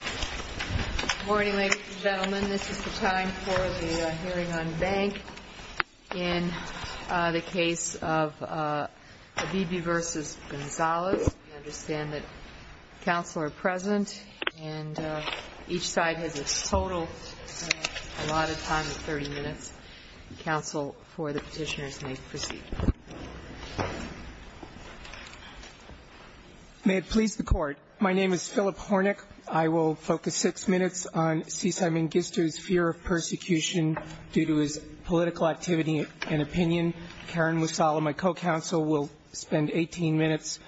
Good morning, ladies and gentlemen. This is the time for the hearing on bank. In the case of Abebe v. Gonzales, we understand that counsel are present, and each side has a total of a lot of time of 30 minutes. Counsel for the petitioners may proceed. May it please the Court. My name is Philip Hornick. I will focus six minutes on C. Simon Gister's fear of persecution due to his political activity and opinion. Karen Musala, my co-counsel, will spend 18 minutes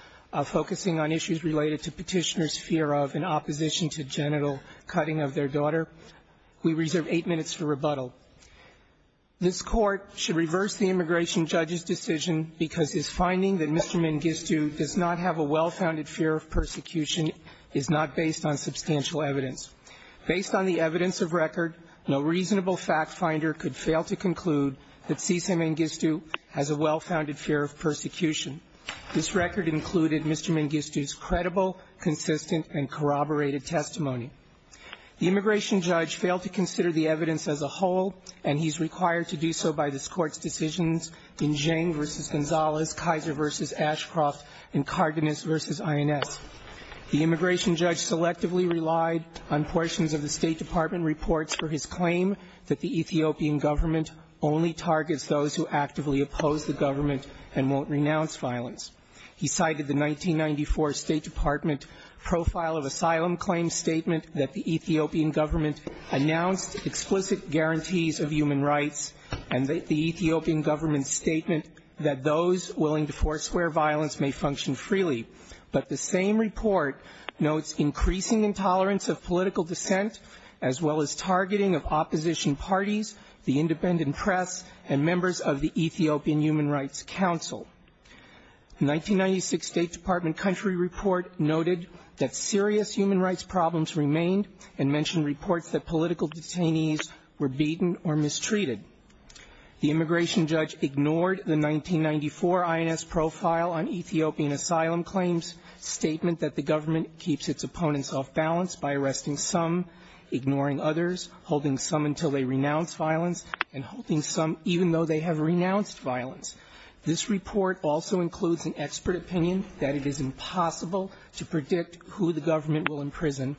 focusing on issues related to petitioners' fear of and opposition to genital cutting of their daughter. We reserve eight minutes for rebuttal. This Court should reverse the immigration judge's decision because his finding that Mr. Mangistu does not have a well-founded fear of persecution is not based on substantial evidence. Based on the evidence of record, no reasonable fact-finder could fail to conclude that C. Simon Gister has a well-founded fear of persecution. This record included Mr. Mangistu's credible, consistent, and corroborated testimony. The immigration judge failed to consider the evidence as a whole, and he is required to do so by this Court's decisions in Geng v. Gonzalez, Kaiser v. Ashcroft, and Cardenas v. INS. The immigration judge selectively relied on portions of the State Department reports for his claim that the Ethiopian government only targets those who actively oppose the government and won't renounce violence. He cited the 1994 State Department Profile of Asylum Claim Statement that the Ethiopian government announced explicit guarantees of human rights and the Ethiopian government's statement that those willing to forswear violence may function freely. But the same report notes increasing intolerance of political dissent, as well as targeting of opposition parties, the independent press, and members of the Ethiopian Human Rights Council. The 1996 State Department Country Report noted that serious human rights problems remained and mentioned reports that political detainees were beaten or mistreated. The immigration judge ignored the 1994 INS Profile on Ethiopian Asylum Claims statement that the government keeps its opponents off balance by arresting some, ignoring others, holding some until they renounce violence, and holding some even though they have renounced violence. This report also includes an expert opinion that it is impossible to predict who the government will imprison.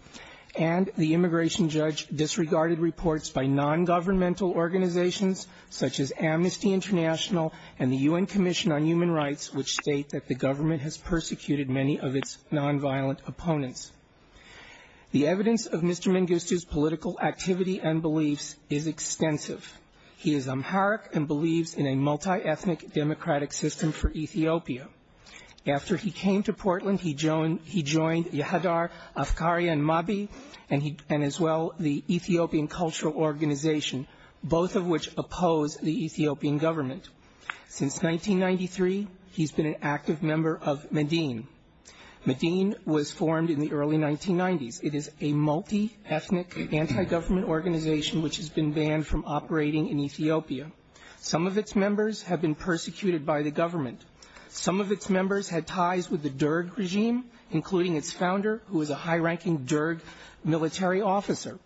And the immigration judge disregarded reports by nongovernmental organizations, such as Amnesty International and the UN Commission on Human Rights, which state that the government has persecuted many of its nonviolent opponents. The evidence of Mr. Mengistu's political activity and beliefs is extensive. He is Amharic and believes in a multi-ethnic democratic system for Ethiopia. After he came to Portland, he joined Yehadar Afkari and Mabi, and as well the Ethiopian Cultural Organization, both of which oppose the Ethiopian government. Since 1993, he's been an active member of Medin. Medin was formed in the early 1990s. It is a multi-ethnic anti-government organization which has been banned from operating in Ethiopia. Some of its members have been persecuted by the government. Some of its members had ties with the Derg regime, including its founder, who is a high-ranking Derg military officer.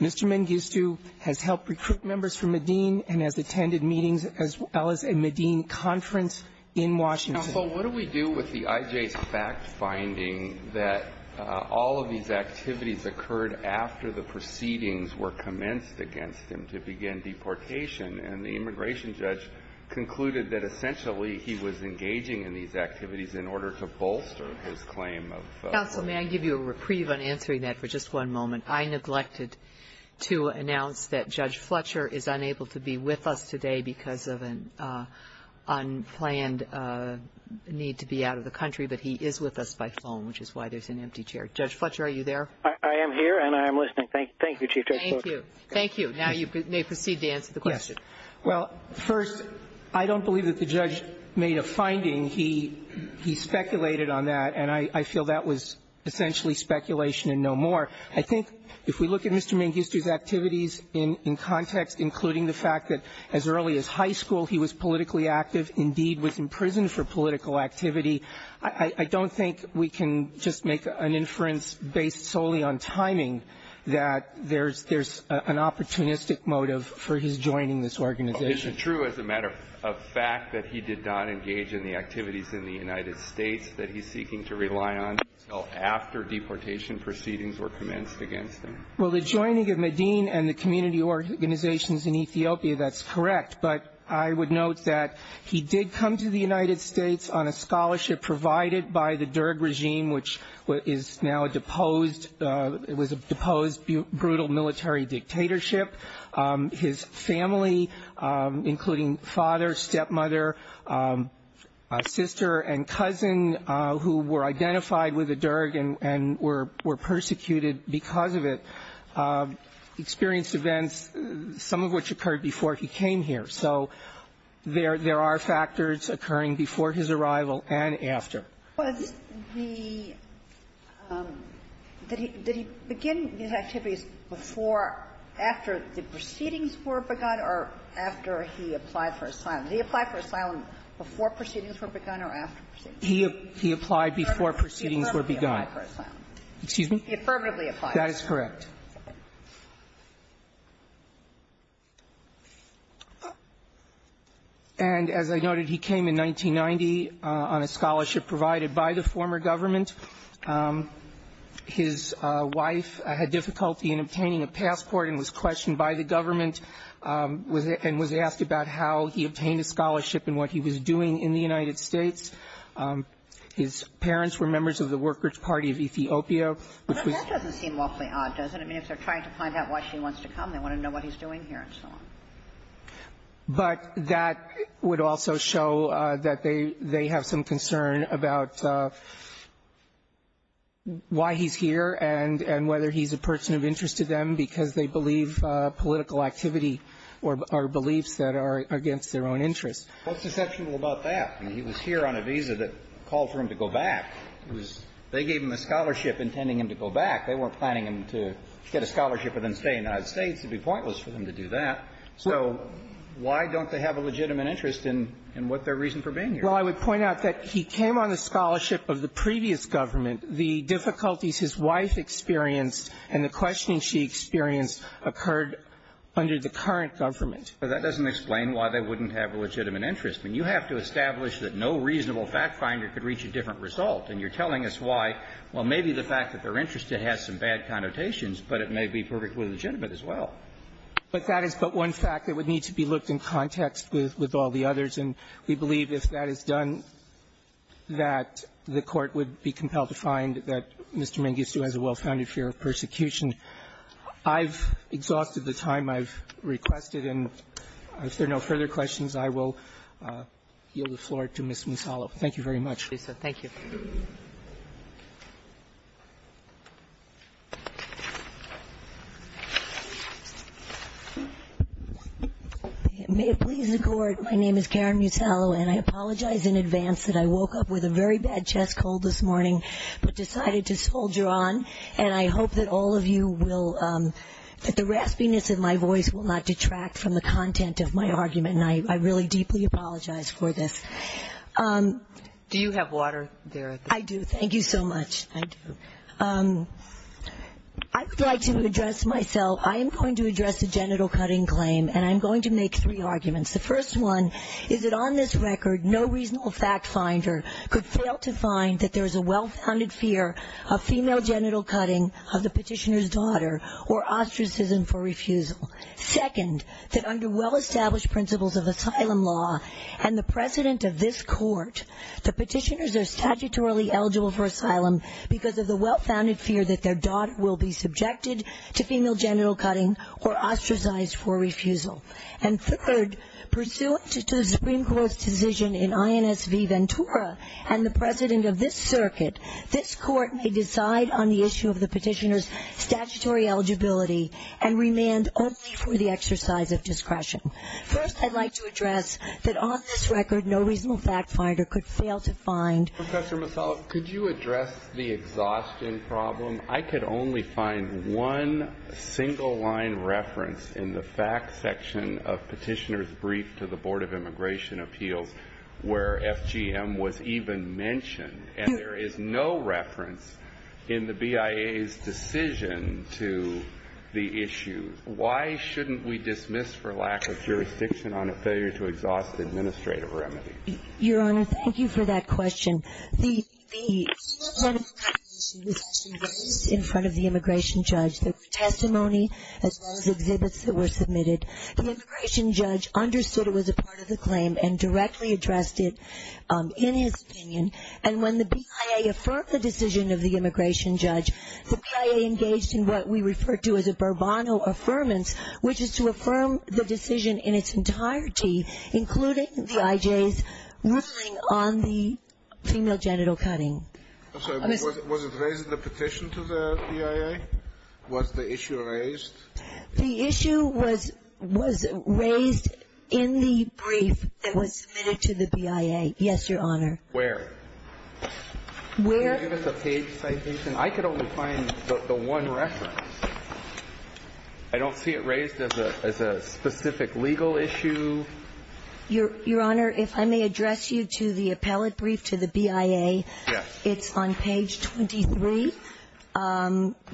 Mr. Mengistu has helped recruit members from Medin and has attended meetings as well as a Medin conference in Washington. Breyer. Counsel, what do we do with the IJ's fact finding that all of these activities occurred after the proceedings were commenced against him to begin deportation, and the immigration judge concluded that essentially he was engaging in these activities in order to bolster his claim of ---- Counsel, may I give you a reprieve on answering that for just one moment? I neglected to announce that Judge Fletcher is unable to be with us today because of an unplanned need to be out of the country, but he is with us by phone, which is why there's an empty chair. Judge Fletcher, are you there? I am here, and I am listening. Thank you, Chief Judge Fletcher. Thank you. Thank you. Now you may proceed to answer the question. Yes. Well, first, I don't believe that the judge made a finding. He speculated on that, and I feel that was essentially speculation and no more. I think if we look at Mr. Mangustu's activities in context, including the fact that as early as high school he was politically active, indeed was in prison for political activity, I don't think we can just make an inference based solely on timing that there's an opportunistic motive for his joining this organization. Well, is it true as a matter of fact that he did not engage in the activities in the United States that he's seeking to rely on until after deportation proceedings were commenced against him? Well, the joining of Medin and the community organizations in Ethiopia, that's correct, but I would note that he did come to the United States on a scholarship provided by the Derg regime, which is now a deposed brutal military dictatorship. His family, including father, stepmother, sister, and cousin, who were identified with the Derg and were persecuted because of it, experienced events, some of which occurred before he came here. So there are factors occurring before his arrival and after. Was the – did he begin these activities before, after the proceedings were begun or after he applied for asylum? Did he apply for asylum before proceedings were begun or after proceedings were begun? He applied before proceedings were begun. Excuse me? He affirmatively applied. That is correct. And as I noted, he came in 1990 on a scholarship provided by the former government. His wife had difficulty in obtaining a passport and was questioned by the government and was asked about how he obtained a scholarship and what he was doing in the United States. His parents were members of the Workers' Party of Ethiopia, which was the – But that doesn't seem awfully odd, does it? I mean, if they're trying to find out why she wants to come, they want to know what he's doing here and so on. But that would also show that they have some concern about why he's here and whether he's a person of interest to them because they believe political activity or beliefs that are against their own interests. What's deceptive about that? I mean, he was here on a visa that called for him to go back. It was – they gave him a scholarship intending him to go back. They weren't planning him to get a scholarship and then stay in the United States. It would be pointless for them to do that. So why don't they have a legitimate interest in what their reason for being here is? Well, I would point out that he came on the scholarship of the previous government. The difficulties his wife experienced and the questioning she experienced occurred under the current government. But that doesn't explain why they wouldn't have a legitimate interest. I mean, you have to establish that no reasonable fact finder could reach a different result. And you're telling us why. Well, maybe the fact that they're interested has some bad connotations, but it may be perfectly legitimate as well. But that is but one fact that would need to be looked in context with all the others. And we believe if that is done, that the Court would be compelled to find that Mr. Mengistu has a well-founded fear of persecution. I've exhausted the time I've requested. And if there are no further questions, I will yield the floor to Ms. Musallo. Thank you very much. Thank you. May it please the Court. My name is Karen Musallo, and I apologize in advance that I woke up with a very bad chest cold this morning but decided to soldier on. And I hope that all of you will, that the raspiness in my voice will not detract from the content of my argument. And I really deeply apologize for this. Do you have water there? I do. Thank you so much. I do. I would like to address myself. I am going to address the genital cutting claim, and I'm going to make three arguments. The first one is that on this record, no reasonable fact finder could fail to find that there is a well-founded fear of female genital cutting of the petitioner's daughter or ostracism for refusal. Second, that under well-established principles of asylum law and the precedent of this Court, the petitioners are statutorily eligible for asylum because of the well-founded fear that their daughter will be subjected to female genital cutting or ostracized for refusal. And third, pursuant to the Supreme Court's decision in INSV Ventura and the circuit, this Court may decide on the issue of the petitioner's statutory eligibility and remand only for the exercise of discretion. First, I'd like to address that on this record, no reasonable fact finder could petitioner's daughter or ostracized for refusal. Professor Masalas, could you address the exhaustion problem? I could only find one single-line reference in the facts section of Petitioner's case that has been mentioned, and there is no reference in the BIA's decision to the issue. Why shouldn't we dismiss for lack of jurisdiction on a failure to exhaust administrative remedy? Your Honor, thank you for that question. The female genital cutting issue was actually raised in front of the immigration judge. There were testimony as well as exhibits that were submitted. The immigration judge understood it was a part of the claim and directly addressed it in his opinion. And when the BIA affirmed the decision of the immigration judge, the BIA engaged in what we refer to as a Burbano Affirmance, which is to affirm the decision in its entirety, including the IJ's ruling on the female genital cutting. I'm sorry. Was it raised in the petition to the BIA? Was the issue raised? The issue was raised in the brief that was submitted to the BIA. Yes, Your Honor. Where? Where? Can you give us a page citation? I could only find the one reference. I don't see it raised as a specific legal issue. Your Honor, if I may address you to the appellate brief to the BIA. Yes. It's on page 23,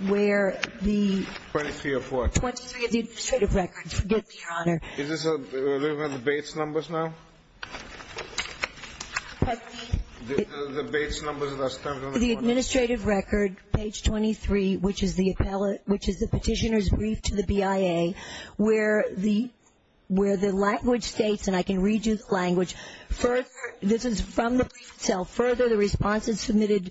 where the 23 of what? 23 of the administrative records. Forgive me, Your Honor. Is this where we have the Bates numbers now? The Bates numbers that are stamped on the board. The administrative record, page 23, which is the petitioner's brief to the BIA, where the language states, and I can read you the language, this is from the brief itself. Further, the respondents submitted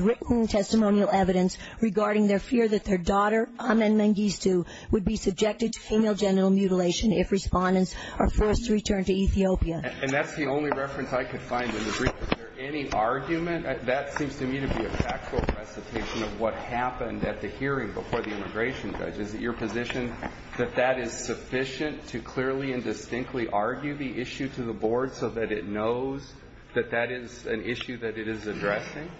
written testimonial evidence regarding their fear that their daughter, Amen Mengistu, would be subjected to female genital mutilation if respondents are forced to return to Ethiopia. And that's the only reference I could find in the brief. Is there any argument? That seems to me to be a factual recitation of what happened at the hearing before the immigration judge. Is it your position that that is sufficient to clearly and distinctly argue the issue to the board so that it knows that that is an issue that it is addressing?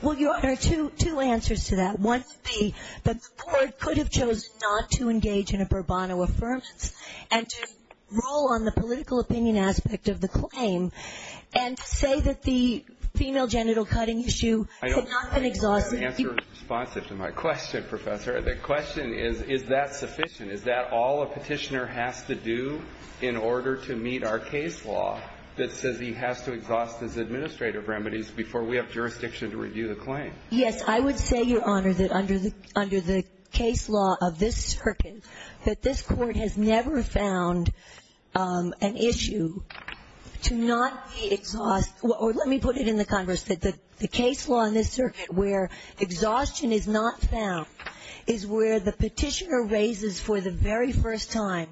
Well, Your Honor, two answers to that. One would be that the board could have chosen not to engage in a Burbano Affirmance and to rule on the political opinion aspect of the claim and say that the female genital cutting issue could not have been exhausted. I don't think the answer is responsive to my question, Professor. The question is, is that sufficient? Is that all a petitioner has to do in order to meet our case law that says he has to exhaust his administrative remedies before we have jurisdiction to review the claim? Yes. I would say, Your Honor, that under the case law of this circuit, that this Court has never found an issue to not exhaust or let me put it in the Congress, that the case law in this circuit where exhaustion is not found is where the petitioner raises for the very first time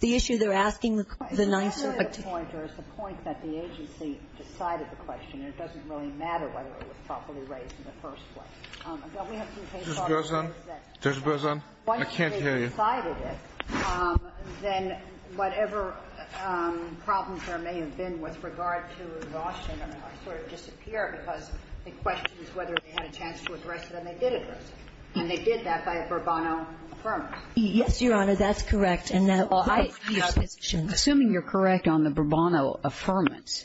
the issue they're asking the 9th Circuit. The point, Your Honor, is the point that the agency decided the question and it doesn't really matter whether it was properly raised in the first place. We have some case law that says that once they've decided it, then whatever problems there may have been with regard to exhaustion are going to sort of disappear because the question is whether they had a chance to address it and they did address it. And they did that by a Bourbonno affirmance. Yes, Your Honor, that's correct. Assuming you're correct on the Bourbonno affirmance,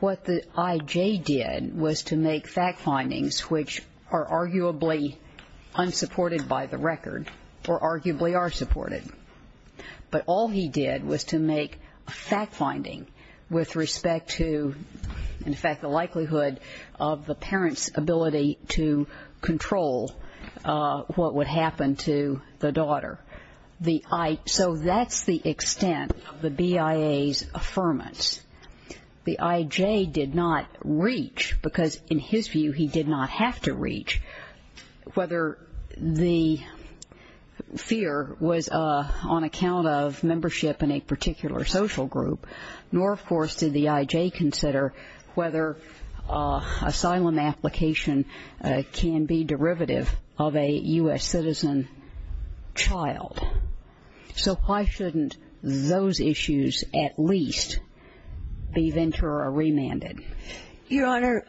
what the I.J. did was to make fact findings which are arguably unsupported by the record or arguably are supported. But all he did was to make a fact finding with respect to, in fact, the likelihood of the parent's ability to control what would happen to the daughter. So that's the extent of the BIA's affirmance. The I.J. did not reach, because in his view he did not have to reach, whether the fear was on account of membership in a particular social group, nor, of course, did the I.J. consider whether asylum application can be derivative of a U.S. citizen child. So why shouldn't those issues at least be ventured or remanded? Your Honor,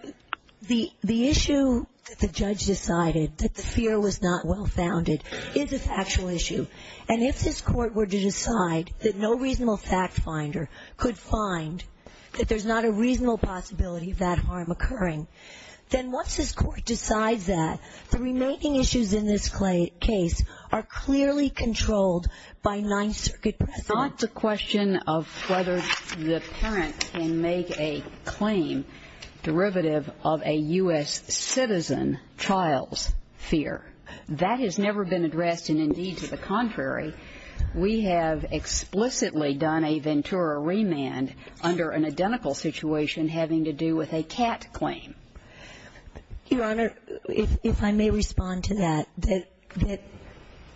the issue that the judge decided, that the fear was not well-founded, is a factual issue. And if this Court were to decide that no reasonable fact finder could find that there's not a reasonable possibility of that harm occurring, then once this Court decides that, the remaking issues in this case are clearly controlled by Ninth Circuit precedent. It's not the question of whether the parent can make a claim derivative of a U.S. citizen child's fear. That has never been addressed. And, indeed, to the contrary, we have explicitly done a ventura remand under an identical situation having to do with a CAT claim. Your Honor, if I may respond to that, that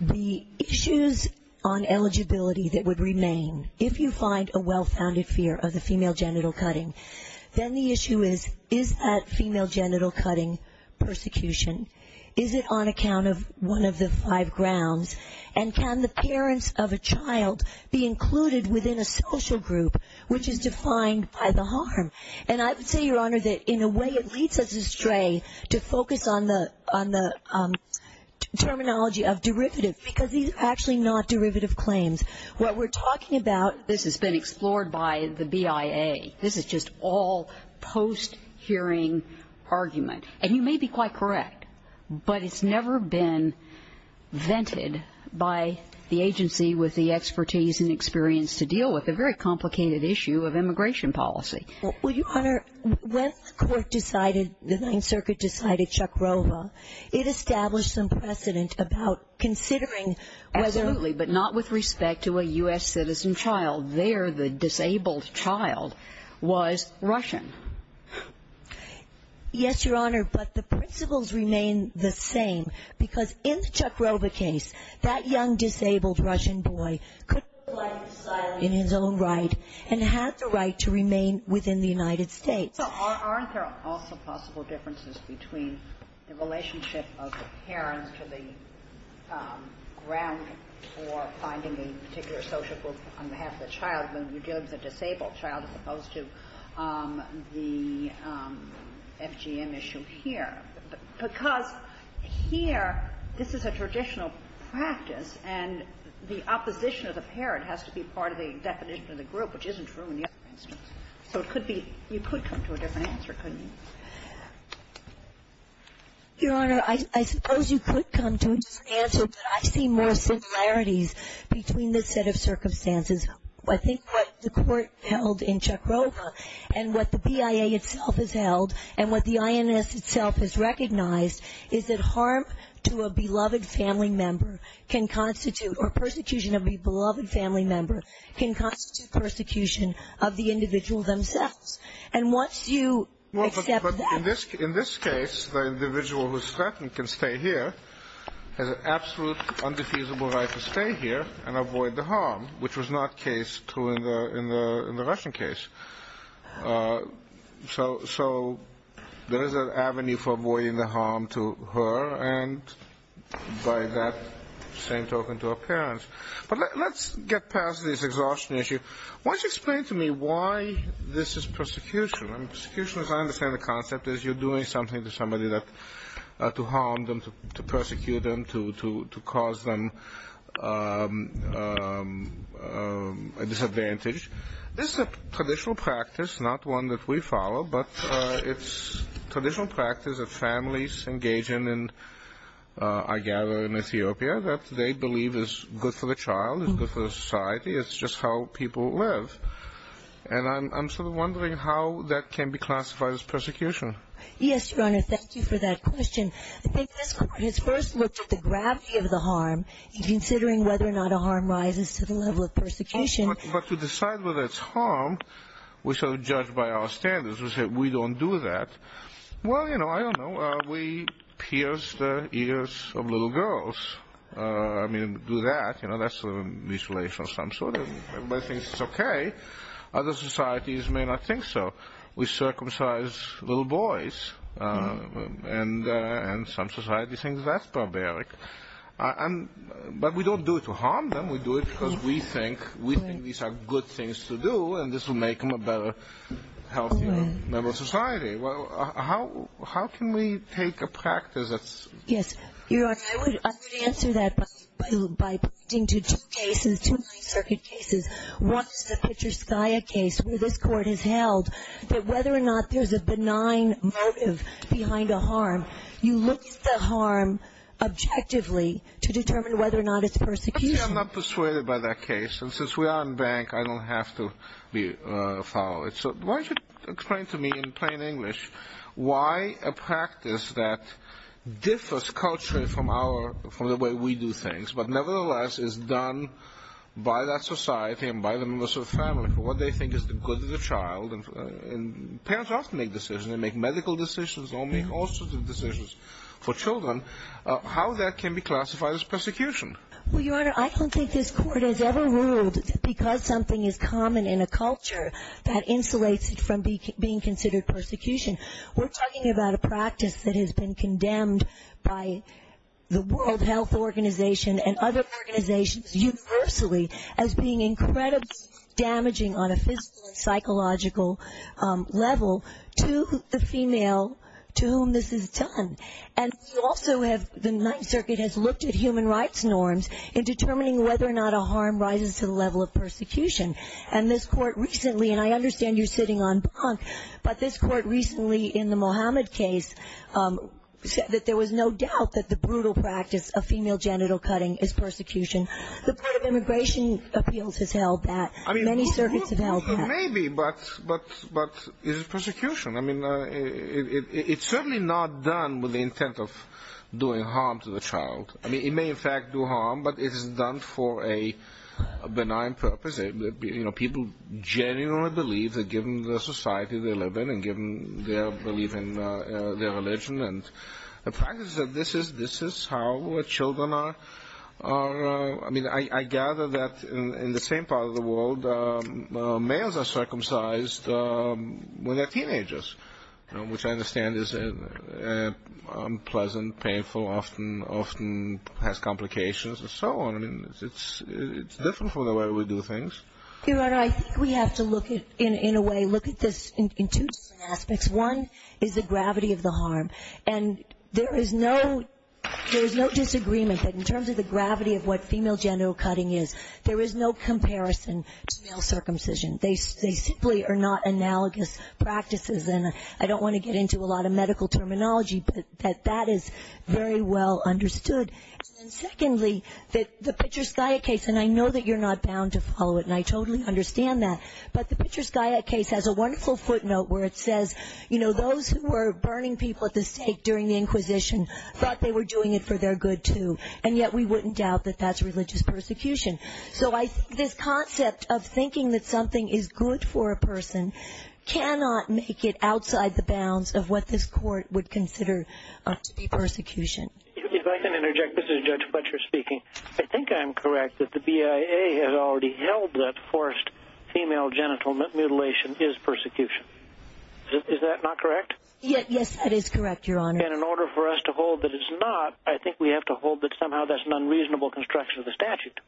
the issues on eligibility that would remain, if you find a well-founded fear of the female genital cutting, then the issue is, is that female genital cutting persecution? Is it on account of one of the five grounds? And can the parents of a child be included within a social group, which is defined by the harm? And I would say, Your Honor, that in a way it leads us astray to focus on the terminology of derivative, because these are actually not derivative claims. What we're talking about, this has been explored by the BIA. This is just all post-hearing argument. And you may be quite correct, but it's never been vented by the agency with the expertise and experience to deal with a very complicated issue of immigration policy. Well, Your Honor, when the court decided, the Ninth Circuit decided Chuck Rova, it established some precedent about considering whether... Absolutely, but not with respect to a U.S. citizen child. There, the disabled child was Russian. Yes, Your Honor, but the principles remain the same, because in the Chuck Rova case, that young disabled Russian boy in his own right and had the right to remain within the United States. So aren't there also possible differences between the relationship of the parents to the ground for finding a particular social group on behalf of the child when you're dealing with a disabled child as opposed to the FGM issue here? Because here, this is a traditional practice, and the opposition of the parent has to be part of the definition of the group, which isn't true in the other instance. So it could be you could come to a different answer, couldn't you? Your Honor, I suppose you could come to a different answer, but I see more similarities between this set of circumstances. I think what the court held in Chuck Rova and what the BIA itself has held and what the INS itself has recognized is that harm to a beloved family member can constitute, or persecution of a beloved family member can constitute persecution of the individual themselves. And once you accept that... Well, but in this case, the individual who's threatened can stay here, has an absolute undefeasable right to stay here and avoid the harm, which was not true in the Russian case. So there is an avenue for avoiding the harm to her, and by that same token to her parents. But let's get past this exhaustion issue. Why don't you explain to me why this is persecution? I mean, persecution, as I understand the concept, is you're doing something to somebody to harm them, to persecute them, to cause them a disadvantage. This is a traditional practice, not one that we follow, but it's a traditional practice that families engage in, I gather, in Ethiopia, that they believe is good for the child, is good for the society. It's just how people live. And I'm sort of wondering how that can be classified as persecution. Yes, Your Honor, thank you for that question. I think this court has first looked at the gravity of the harm in considering whether or not a harm rises to the level of persecution. But to decide whether it's harm, we sort of judge by our standards. We say, we don't do that. Well, you know, I don't know, we pierce the ears of little girls. I mean, do that, you know, that's sort of a mutilation of some sort. Everybody thinks it's okay. Other societies may not think so. We circumcise little boys, and some society thinks that's barbaric. But we don't do it to harm them. We do it because we think these are good things to do, and this will make them a better, healthier member of society. How can we take a practice that's – Yes, Your Honor, I would answer that by pointing to two cases, two High Circuit cases. One is the Pitcher-Skya case where this court has held that whether or not there's a benign motive behind a harm, you look at the harm objectively to determine whether or not it's persecution. I'm not persuaded by that case. And since we are in bank, I don't have to follow it. So why don't you explain to me in plain English why a practice that differs culturally from the way we do things but nevertheless is done by that society and by the members of the family for what they think is the good of the child. And parents often make decisions. They make medical decisions. They make all sorts of decisions for children. How that can be classified as persecution? Well, Your Honor, I don't think this court has ever ruled that because something is common in a culture, that insulates it from being considered persecution. We're talking about a practice that has been condemned by the World Health Organization and other organizations universally as being incredibly damaging on a physical and psychological level to the female to whom this is done. And we also have, the Ninth Circuit has looked at human rights norms in determining whether or not a harm rises to the level of persecution. And this court recently, and I understand you're sitting on bank, but this court recently in the Mohammed case said that there was no doubt that the brutal practice of female genital cutting is persecution. The Board of Immigration Appeals has held that. Many circuits have held that. Maybe, but is it persecution? I mean, it's certainly not done with the intent of doing harm to the child. I mean, it may, in fact, do harm, but it is done for a benign purpose. You know, people genuinely believe that given the society they live in and given their belief in their religion and the practice that this is how children are, I mean, I gather that in the same part of the world, males are circumcised when they're teenagers, which I understand is unpleasant, painful, often has complications and so on. I mean, it's different from the way we do things. Your Honor, I think we have to look at, in a way, look at this in two aspects. One is the gravity of the harm. And there is no disagreement that in terms of the gravity of what female genital cutting is, there is no comparison to male circumcision. They simply are not analogous practices. And I don't want to get into a lot of medical terminology, but that is very well understood. And secondly, the Pitcher-Skyatt case, and I know that you're not bound to follow it, and I totally understand that, but the Pitcher-Skyatt case has a wonderful footnote where it says, you know, those who were burning people at the stake during the Inquisition thought they were doing it for their good, too. And yet we wouldn't doubt that that's religious persecution. So I think this concept of thinking that something is good for a person cannot make it outside the bounds of what this Court would consider to be persecution. If I can interject, this is Judge Butcher speaking. I think I'm correct that the BIA has already held that forced female genital mutilation is persecution. Is that not correct? Yes, that is correct, Your Honor. And in order for us to hold that it's not, I think we have to hold that somehow that's an unreasonable construction of the statute.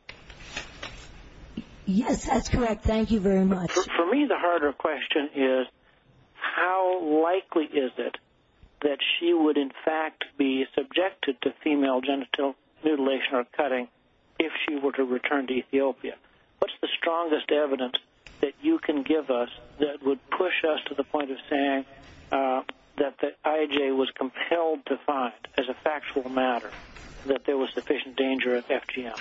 Yes, that's correct. Thank you very much. For me, the harder question is how likely is it that she would in fact be subjected to female genital mutilation or cutting if she were to return to Ethiopia? What's the strongest evidence that you can give us that would push us to the point of saying that the IJ was compelled to find as a factual matter that there was sufficient danger of FGM?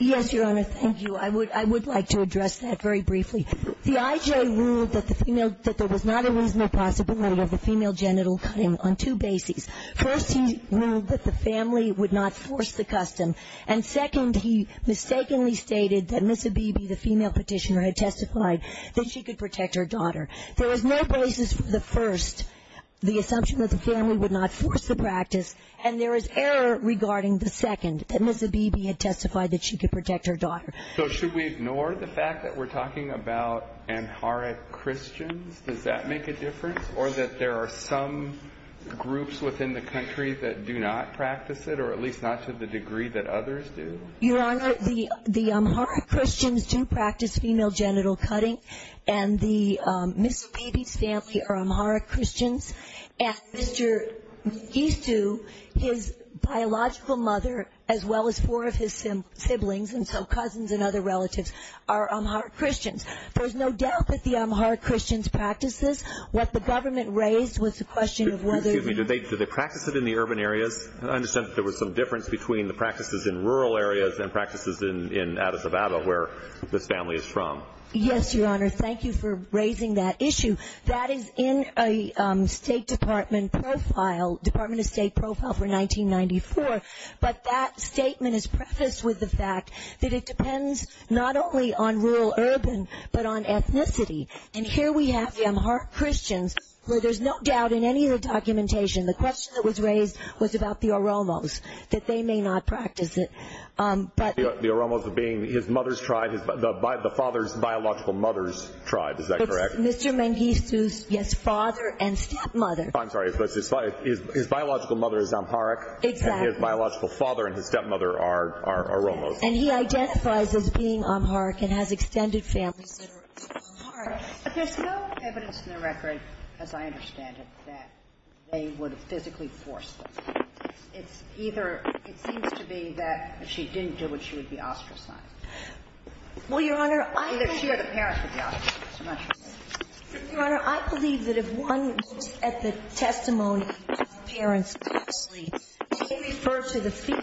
Yes, Your Honor, thank you. I would like to address that very briefly. The IJ ruled that there was not a reasonable possibility of a female genital cutting on two bases. First, he ruled that the family would not force the custom. And second, he mistakenly stated that Ms. Abebe, the female petitioner, had testified that she could protect her daughter. There was no basis for the first, the assumption that the family would not force the practice. And there is error regarding the second, that Ms. Abebe had testified that she could protect her daughter. So should we ignore the fact that we're talking about Amharic Christians? Does that make a difference, or that there are some groups within the country that do not practice it, or at least not to the degree that others do? Your Honor, the Amharic Christians do practice female genital cutting, and the Ms. Abebe's family are Amharic Christians. And Mr. Gisu, his biological mother, as well as four of his siblings, and so cousins and other relatives, are Amharic Christians. There's no doubt that the Amharic Christians practice this. What the government raised was the question of whether the – Excuse me. Do they practice it in the urban areas? I understand that there was some difference between the practices in rural areas and practices in Addis Ababa, where this family is from. Yes, Your Honor. Thank you for raising that issue. That is in a State Department profile, Department of State profile for 1994, but that statement is prefaced with the fact that it depends not only on rural-urban, but on ethnicity. And here we have Amharic Christians, where there's no doubt in any of the documentation, the question that was raised was about the Oromos, that they may not practice it. The Oromos being his mother's tribe, the father's biological mother's tribe, is that correct? Mr. Mengistu's, yes, father and stepmother. I'm sorry. His biological mother is Amharic. Exactly. And his biological father and his stepmother are Oromos. And he identifies as being Amharic and has extended families that are Amharic. But there's no evidence in the record, as I understand it, that they would have physically forced them. It's either – it seems to be that she didn't do it, she would be ostracized. Well, Your Honor, I think – Your Honor, I believe that if one looks at the testimony of the parents closely, they refer to the fear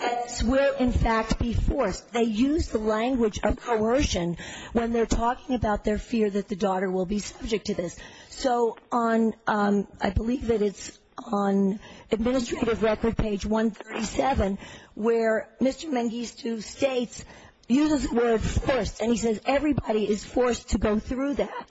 that this will, in fact, be forced. They use the language of coercion when they're talking about their fear that the daughter will be subject to this. So on – I believe that it's on administrative record page 137, where Mr. Mengistu uses the word forced, and he says everybody is forced to go through that.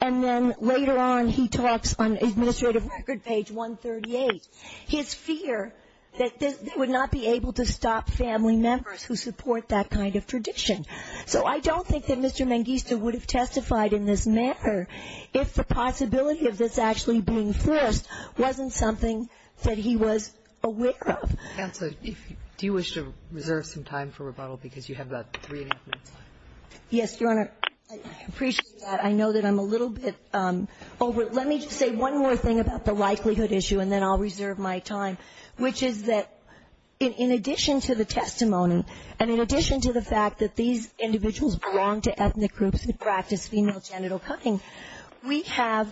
And then later on, he talks on administrative record page 138, his fear that they would not be able to stop family members who support that kind of tradition. So I don't think that Mr. Mengistu would have testified in this matter if the possibility of this actually being forced wasn't something that he was aware of. Counsel, do you wish to reserve some time for rebuttal? Because you have about three and a half minutes left. Yes, Your Honor. I appreciate that. I know that I'm a little bit over – let me just say one more thing about the likelihood issue, and then I'll reserve my time, which is that in addition to the testimony, and in addition to the fact that these individuals belong to ethnic groups who practice female genital cutting, we have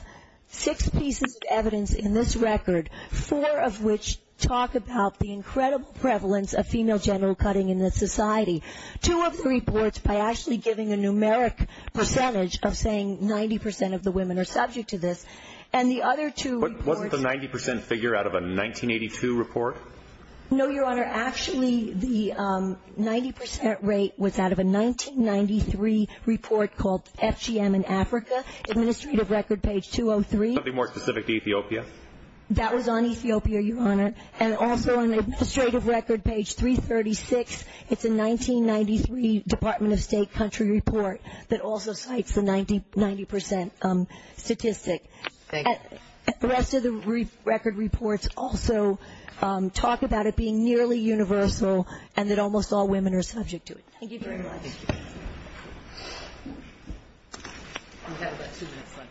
six pieces of evidence in this record, four of which talk about the incredible prevalence of female genital cutting in this society, two of the reports by actually giving a numeric percentage of saying 90% of the women are subject to this, and the other two reports – Wasn't the 90% figure out of a 1982 report? No, Your Honor. Actually, the 90% rate was out of a 1993 report called FGM in Africa, administrative record page 203. Something more specific to Ethiopia? That was on Ethiopia, Your Honor. And also on the administrative record, page 336, it's a 1993 Department of State country report that also cites the 90% statistic. Thank you. The rest of the record reports also talk about it being nearly universal and that almost all women are subject to it. Thank you very much. We have about two minutes left.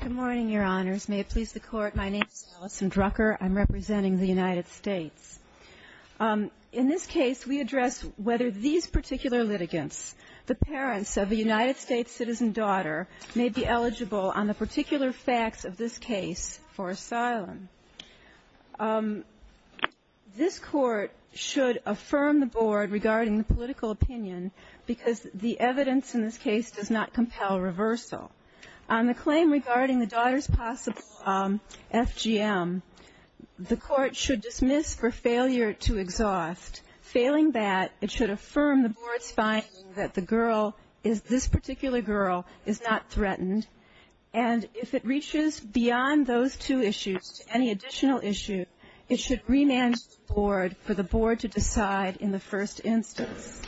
Good morning, Your Honors. May it please the Court. My name is Allison Drucker. I'm representing the United States. In this case, we address whether these particular litigants, the parents of a United States citizen daughter, may be eligible on the particular facts of this case for asylum. This Court should affirm the Board regarding the political opinion because the evidence in this case does not compel reversal. On the claim regarding the daughter's possible FGM, the Court should dismiss for failure to exhaust. Failing that, it should affirm the Board's finding that the girl, this particular girl, is not threatened. And if it reaches beyond those two issues to any additional issue, it should remand the Board for the Board to decide in the first instance.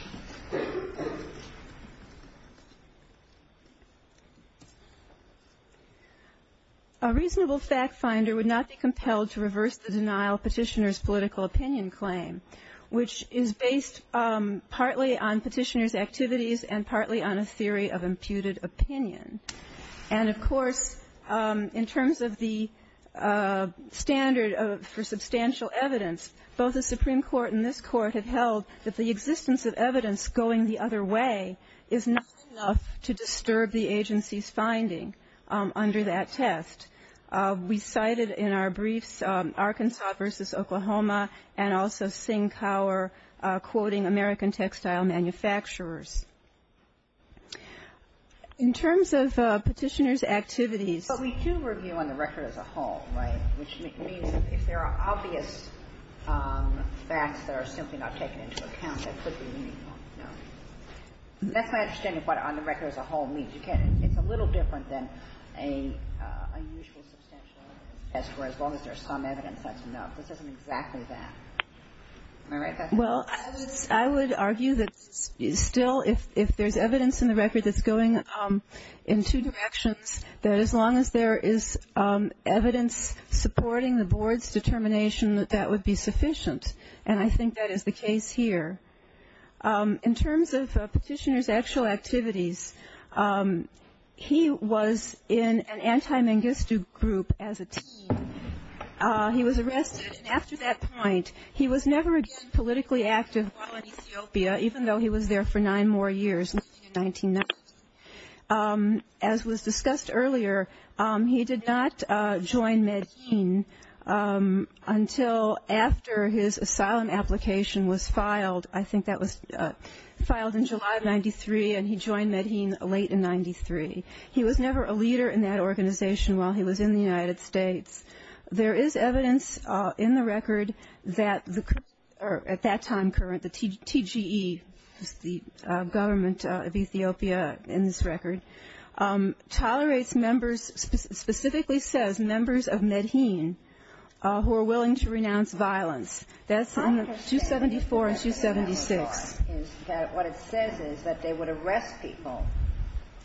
A reasonable fact finder would not be compelled to reverse the denial petitioner's political opinion claim, which is based partly on petitioner's activities and partly on a theory of imputed opinion. And, of course, in terms of the standard for substantial evidence, both the Supreme Court and this Court have held that the existence of evidence going the other way is not enough to disturb the agency's finding under that test. We cited in our briefs Arkansas v. Oklahoma and also Singh-Cower quoting American textile manufacturers. In terms of petitioner's activities. But we do review on the record as a whole, right, which means if there are obvious facts that are simply not taken into account, that could be meaningful. That's my understanding of what on the record as a whole means. It's a little different than a usual substantial evidence test, where as long as there's some evidence, that's enough. This isn't exactly that. Am I right? Well, I would argue that still if there's evidence in the record that's going in two directions, that as long as there is evidence supporting the Board's determination, that that would be sufficient. And I think that is the case here. In terms of petitioner's actual activities, he was in an anti-Mangistu group as a teen. He was arrested. And after that point, he was never again politically active while in Ethiopia, even though he was there for nine more years, in 1990. As was discussed earlier, he did not join Medhin until after his asylum application was filed. I think that was filed in July of 93, and he joined Medhin late in 93. He was never a leader in that organization while he was in the United States. There is evidence in the record that at that time current, the TGE, the government of Ethiopia in this record, tolerates members, specifically says members of Medhin who are willing to renounce violence. That's in the 274 and 276. Ginsburg-McGill. What it says is that they would arrest people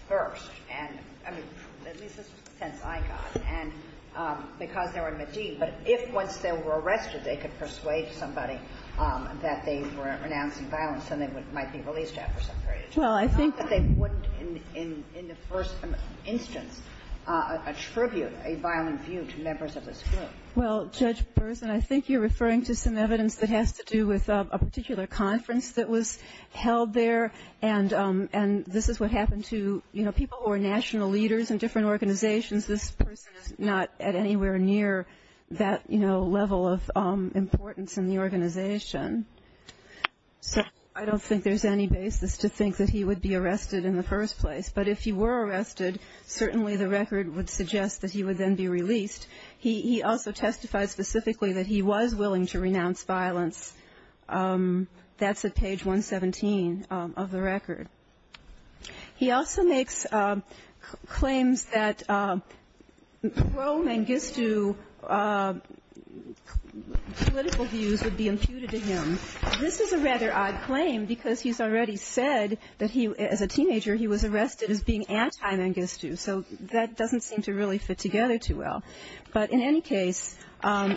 first, and I mean, at least that's the sense I got. And because they were in Medhin, but if once they were arrested, they could persuade somebody that they were renouncing violence, then they might be released after some period of time. It's not that they wouldn't in the first instance attribute a violent view to members of this group. Well, Judge Burson, I think you're referring to some evidence that has to do with a particular conference that was held there, and this is what happened to, you know, people who are national leaders in different organizations. This person is not at anywhere near that, you know, level of importance in the organization. So I don't think there's any basis to think that he would be arrested in the first place, but if he were arrested, certainly the record would suggest that he would then be released. He also testified specifically that he was willing to renounce violence. That's at page 117 of the record. He also makes claims that pro-Mangistu political views would be imputed to him. This is a rather odd claim because he's already said that he, as a teenager, he was arrested as being anti-Mangistu, so that doesn't seem to really fit together too well. But in any case,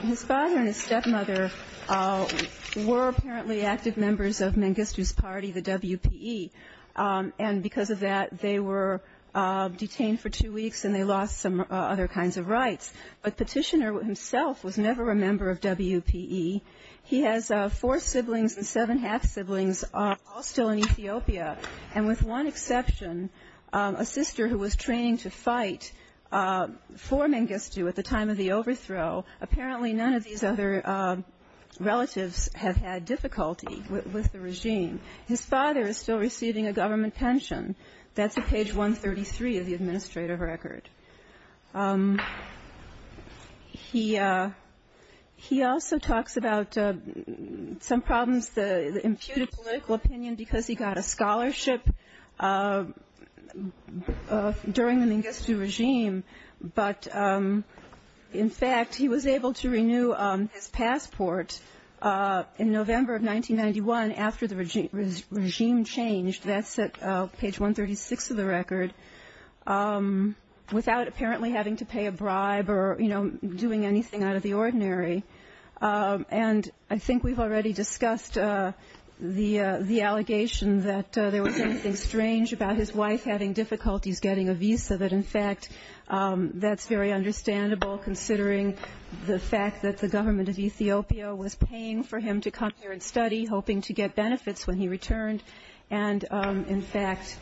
his father and his stepmother were apparently active members of Mangistu's party, the WPE, and because of that, they were detained for two weeks and they lost some other kinds of rights. But Petitioner himself was never a member of WPE. He has four siblings and seven half-siblings, all still in Ethiopia, and with one exception, a sister who was training to fight for Mangistu at the time of the overthrow. Apparently none of these other relatives have had difficulty with the regime. His father is still receiving a government pension. That's at page 133 of the administrative record. He also talks about some problems, the imputed political opinion because he got a scholarship during the Mangistu regime. But, in fact, he was able to renew his passport in November of 1991 after the regime changed. That's at page 136 of the record, without apparently having to pay a bribe or, you know, doing anything out of the ordinary. And I think we've already discussed the allegation that there was anything strange about his wife having difficulties getting a visa, that, in fact, that's very understandable, considering the fact that the government of Ethiopia was paying for him to come here and study, hoping to get benefits when he returned. And, in fact,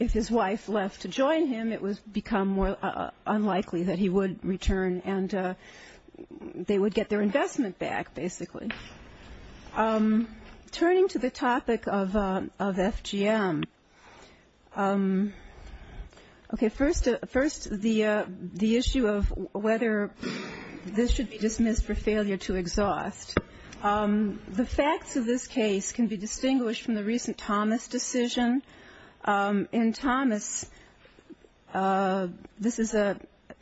if his wife left to join him, it would become more unlikely that he would return and they would get their investment back, basically. Turning to the topic of FGM. Okay, first the issue of whether this should be dismissed for failure to exhaust. The facts of this case can be distinguished from the recent Thomas decision. In Thomas, this is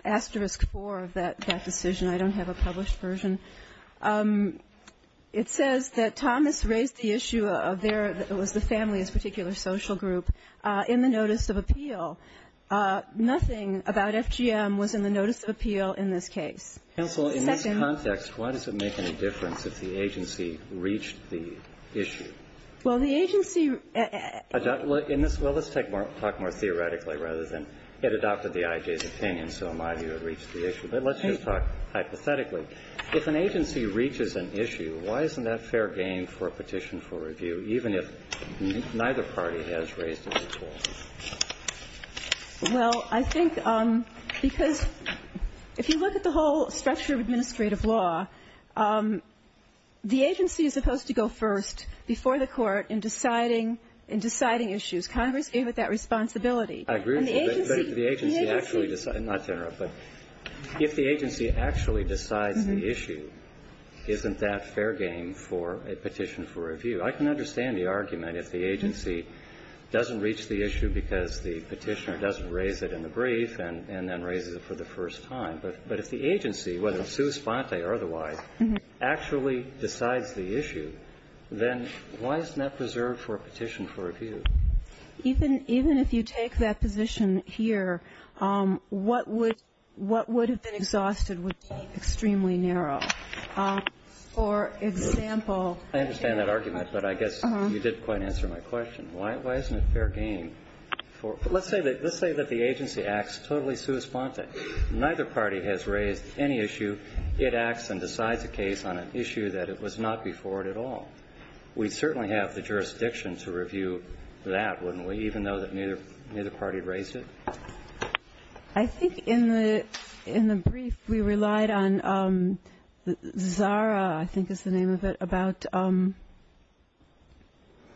asterisk four of that decision. I don't have a published version. It says that Thomas raised the issue of there was the family's particular social group in the notice of appeal. Nothing about FGM was in the notice of appeal in this case. Counsel, in this context, why does it make any difference if the agency reached the issue? Well, the agency ---- Well, let's talk more theoretically rather than, it adopted the IJ's opinion, so a lot of you have reached the issue. But let's just talk hypothetically. If an agency reaches an issue, why isn't that fair game for a petition for review, even if neither party has raised it before? Well, I think because if you look at the whole structure of administrative law, the agency is supposed to go first before the court in deciding issues. Congress gave it that responsibility. I agree. But if the agency actually decides the issue, isn't that fair game for a petition for review? I can understand the argument if the agency doesn't reach the issue because the petitioner doesn't raise it in the brief and then raises it for the first time. But if the agency, whether it's sua sponte or otherwise, actually decides the issue, then why isn't that preserved for a petition for review? Even if you take that position here, what would have been exhausted would be extremely narrow. For example ---- I understand that argument, but I guess you did quite answer my question. Why isn't it fair game for ---- let's say that the agency acts totally sua sponte. Neither party has raised any issue. It acts and decides a case on an issue that it was not before it at all. We certainly have the jurisdiction to review that, wouldn't we, even though neither party raised it? I think in the brief we relied on Zara, I think is the name of it, about ----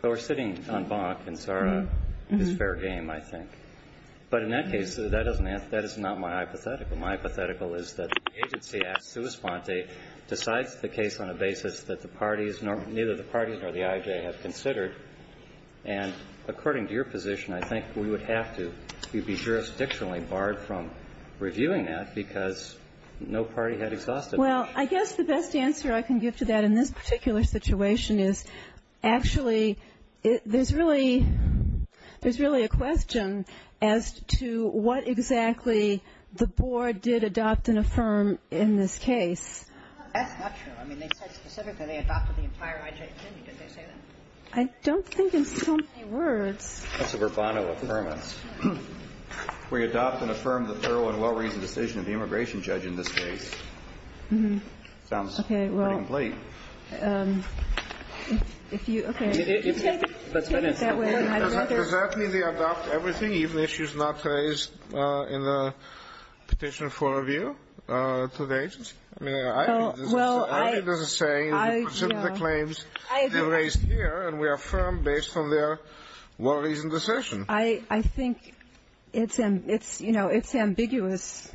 We're sitting on Bonk and Zara is fair game, I think. But in that case, that is not my hypothetical. My hypothetical is that the agency acts sua sponte, decides the case on a basis that the parties, neither the parties nor the IJ have considered. And according to your position, I think we would have to be jurisdictionally barred from reviewing that because no party had exhausted it. Well, I guess the best answer I can give to that in this particular situation is actually there's really a question as to what exactly the board did adopt and affirm in this case. That's not true. I mean, they said specifically they adopted the entire IJ committee. Did they say that? I don't think in so many words. That's a verbatim affirmance. We adopt and affirm the thorough and well-reasoned decision of the immigration judge in this case. Sounds incomplete. Does that mean they adopt everything, even issues not raised in the petition for review to the agency? I mean, I think this is the same. The claims are raised here, and we affirm based on their well-reasoned decision. I think it's ambiguous.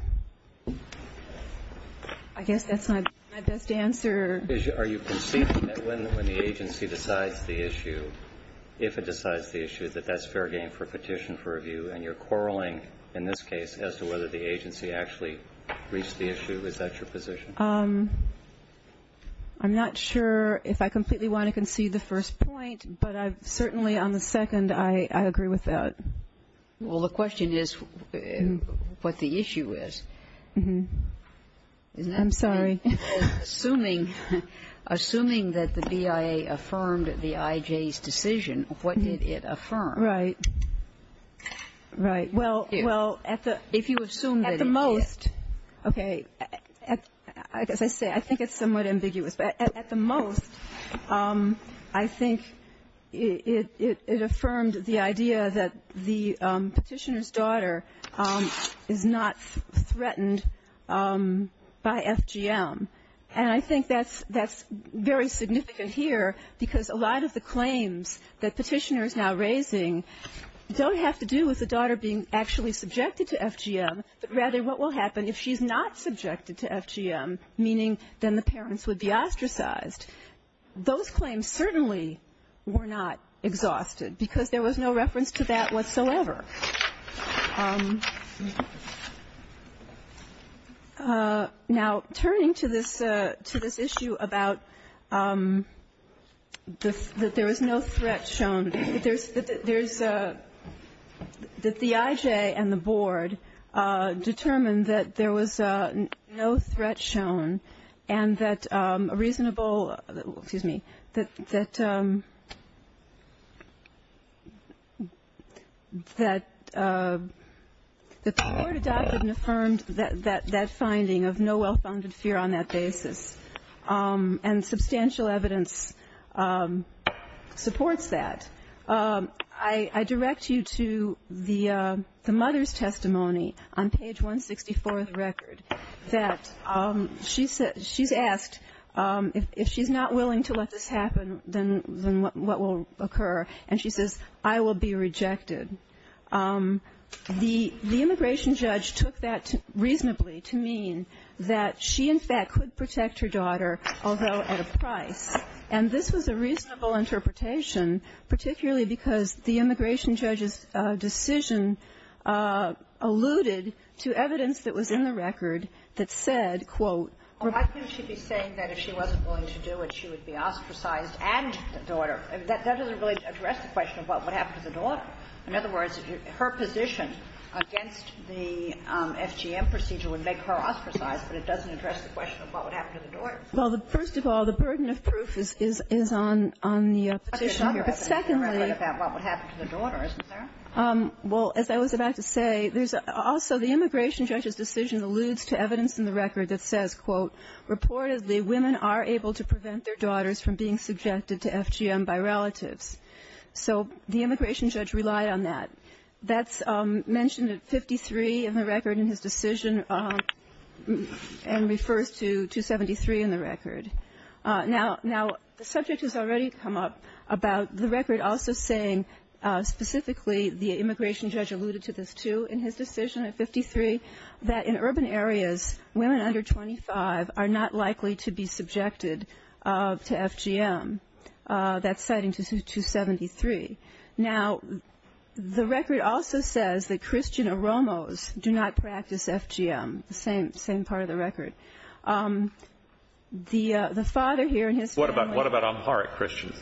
I guess that's my best answer. Are you conceding that when the agency decides the issue, if it decides the issue, that that's fair game for petition for review, and you're quarreling in this case as to whether the agency actually reached the issue? Is that your position? I'm not sure if I completely want to concede the first point, but certainly on the second, I agree with that. Well, the question is what the issue is. I'm sorry. Assuming that the BIA affirmed the IJ's decision, what did it affirm? Right. Right. Well, if you assume that it did. At the most, okay, as I say, I think it's somewhat ambiguous. But at the most, I think it affirmed the idea that the petitioner's daughter is not threatened by FGM. And I think that's very significant here because a lot of the claims that petitioners now raising don't have to do with the daughter being actually subjected to FGM, but rather what will happen if she's not subjected to FGM, meaning then the parents would be ostracized. Those claims certainly were not exhausted because there was no reference to that whatsoever. Now, turning to this issue about that there was no threat shown, that the IJ and the that the court adopted and affirmed that finding of no well-founded fear on that basis, and substantial evidence supports that. I direct you to the mother's testimony on page 164 of the record that she's asked if she's not willing to let this happen, then what will occur? And she says, I will be rejected. The immigration judge took that reasonably to mean that she, in fact, could protect her daughter, although at a price. And this was a reasonable interpretation, particularly because the immigration judge's decision alluded to evidence that was in the record that said, quote, Well, why couldn't she be saying that if she wasn't willing to do it, she would be ostracized and the daughter? That doesn't really address the question of what would happen to the daughter. In other words, her position against the FGM procedure would make her ostracized, but it doesn't address the question of what would happen to the daughter. Well, first of all, the burden of proof is on the petitioner. But secondly, What would happen to the daughter, isn't there? Well, as I was about to say, there's also the immigration judge's decision alludes to evidence in the record that says, quote, Reportedly, women are able to prevent their daughters from being subjected to FGM by relatives. So the immigration judge relied on that. That's mentioned at 53 in the record in his decision and refers to 273 in the record. Now, the subject has already come up about the record also saying specifically the immigration judge alluded to this, too, in his decision at 53, that in urban areas, women under 25 are not likely to be subjected to FGM. That's citing 273. Now, the record also says that Christian Oromos do not practice FGM, the same part of the record. The father here and his family. What about Amharic Christians?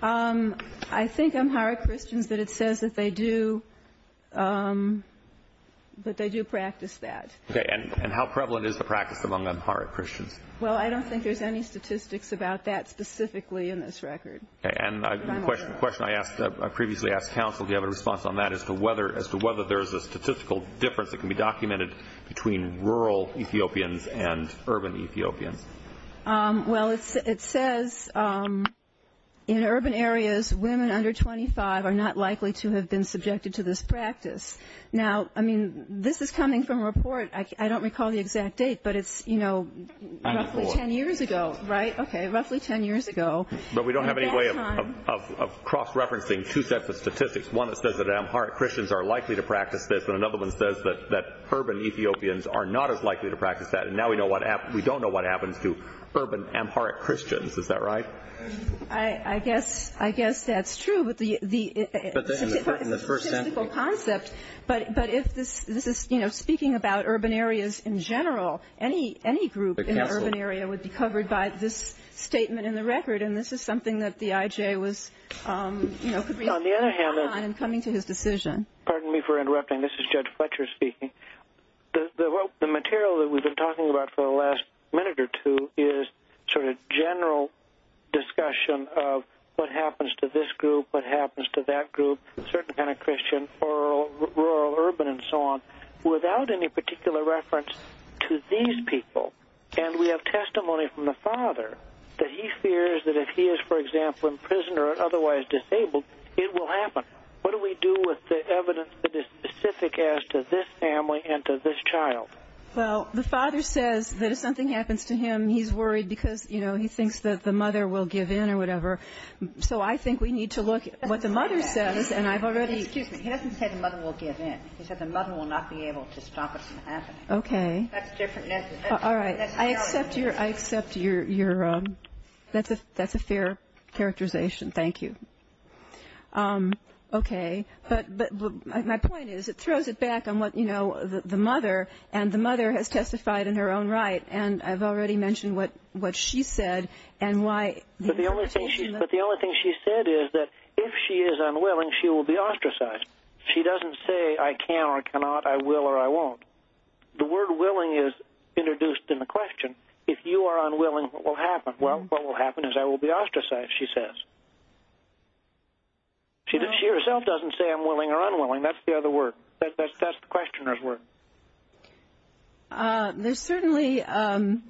I think Amharic Christians, but it says that they do practice that. Okay. And how prevalent is the practice among Amharic Christians? Well, I don't think there's any statistics about that specifically in this record. Okay. And a question I previously asked counsel, do you have a response on that as to whether there is a statistical difference that can be documented between rural Ethiopians and urban Ethiopians? Well, it says in urban areas, women under 25 are not likely to have been subjected to this practice. Now, I mean, this is coming from a report. I don't recall the exact date, but it's, you know, roughly 10 years ago, right? Okay. Roughly 10 years ago. But we don't have any way of cross-referencing two sets of statistics, one that says that Amharic Christians are likely to practice this and another one says that urban Ethiopians are not as likely to practice that. And now we don't know what happens to urban Amharic Christians. Is that right? I guess that's true. But the statistical concept, but if this is, you know, speaking about urban areas in general, any group in an urban area would be covered by this statement in the record, and this is something that the IJ was, you know, could respond on in coming to his decision. Pardon me for interrupting. This is Judge Fletcher speaking. The material that we've been talking about for the last minute or two is sort of general discussion of what happens to this group, what happens to that group, certain kind of Christian, rural, urban, and so on, without any particular reference to these people. And we have testimony from the father that he fears that if he is, for example, in prison or otherwise disabled, it will happen. What do we do with the evidence that is specific as to this family and to this child? Well, the father says that if something happens to him, he's worried because, you know, he thinks that the mother will give in or whatever. So I think we need to look at what the mother says, and I've already ---- Excuse me. He doesn't say the mother will give in. He says the mother will not be able to stop it from happening. Okay. That's different. All right. I accept your ---- that's a fair characterization. Thank you. Okay. But my point is it throws it back on what, you know, the mother, and the mother has testified in her own right, and I've already mentioned what she said and why ---- But the only thing she said is that if she is unwilling, she will be ostracized. She doesn't say I can or cannot, I will or I won't. The word willing is introduced in the question. If you are unwilling, what will happen? Well, what will happen is I will be ostracized, she says. She herself doesn't say I'm willing or unwilling. That's the other word. That's the questioner's word. There's certainly other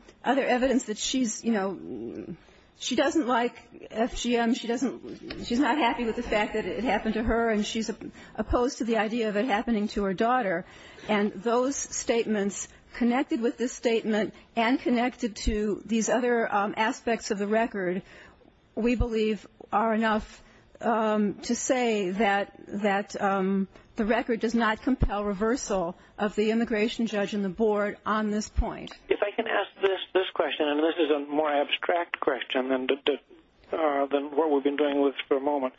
evidence that she's, you know, she doesn't like FGM. She doesn't ---- she's not happy with the fact that it happened to her, and those statements connected with this statement and connected to these other aspects of the record, we believe are enough to say that the record does not compel reversal of the immigration judge and the board on this point. If I can ask this question, and this is a more abstract question than what we've been doing for a moment,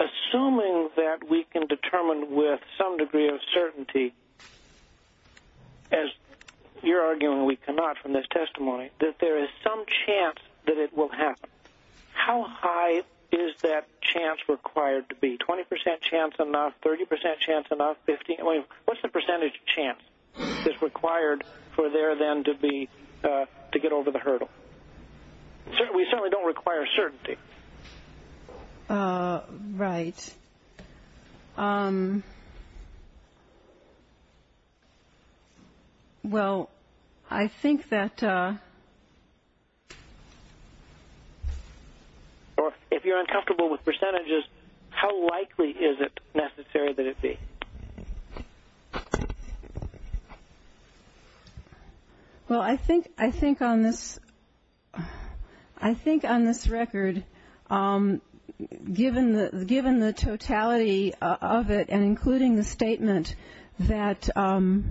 assuming that we can determine with some degree of certainty, as you're arguing we cannot from this testimony, that there is some chance that it will happen, how high is that chance required to be? 20% chance enough, 30% chance enough, 15%? What's the percentage chance that's required for there then to be ---- to get over the hurdle? We certainly don't require certainty. Right. Well, I think that ---- If you're uncomfortable with percentages, how likely is it necessary that it be? Well, I think on this record, given the totality of it and including the statement that ----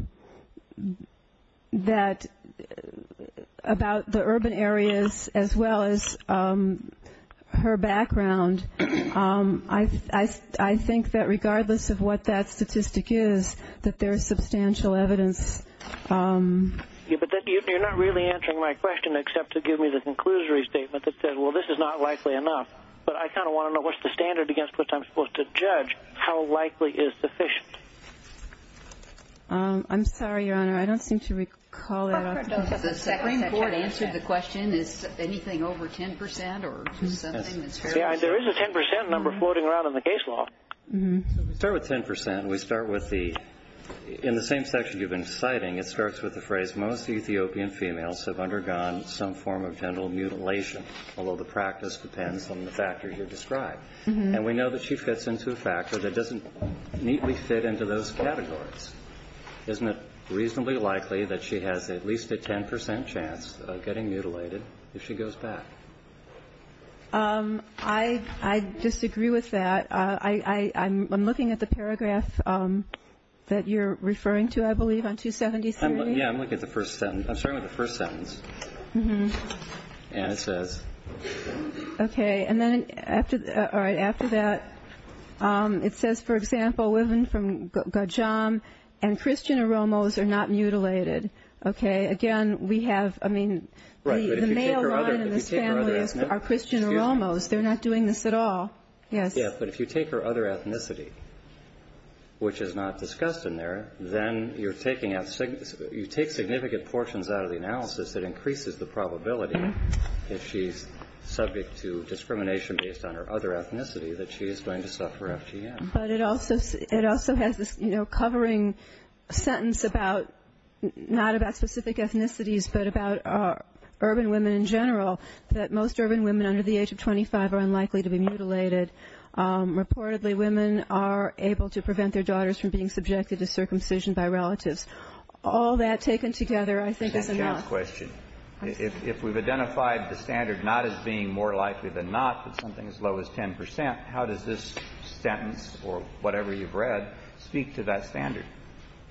about the urban areas as well as her background, I think that regardless of what that statistic is, that there is substantial evidence. But you're not really answering my question except to give me the conclusory statement that says, well, this is not likely enough. But I kind of want to know what's the standard against which I'm supposed to judge how likely is sufficient? I'm sorry, Your Honor, I don't seem to recall that. Does the Supreme Court answer the question, is anything over 10% or something? There is a 10% number floating around in the case law. We start with 10%. We start with the ---- in the same section you've been citing, it starts with the phrase, most Ethiopian females have undergone some form of genital mutilation, although the practice depends on the factors you've described. And we know that she fits into a factor that doesn't neatly fit into those categories. Isn't it reasonably likely that she has at least a 10% chance of getting mutilated if she goes back? I disagree with that. I'm looking at the paragraph that you're referring to, I believe, on 273. Yeah, I'm looking at the first sentence. I'm starting with the first sentence. And it says ---- Okay. All right. After that, it says, for example, women from Gajam and Christian Oromos are not mutilated. Okay. Again, we have, I mean, the male line in this family are Christian Oromos. They're not doing this at all. Yes. Yeah, but if you take her other ethnicity, which is not discussed in there, if she's subject to discrimination based on her other ethnicity, that she is going to suffer FGM. But it also has this, you know, covering sentence about, not about specific ethnicities, but about urban women in general, that most urban women under the age of 25 are unlikely to be mutilated. Reportedly, women are able to prevent their daughters from being subjected to circumcision by relatives. All that taken together, I think, is enough. Let me ask a question. If we've identified the standard not as being more likely than not, but something as low as 10 percent, how does this sentence or whatever you've read speak to that standard?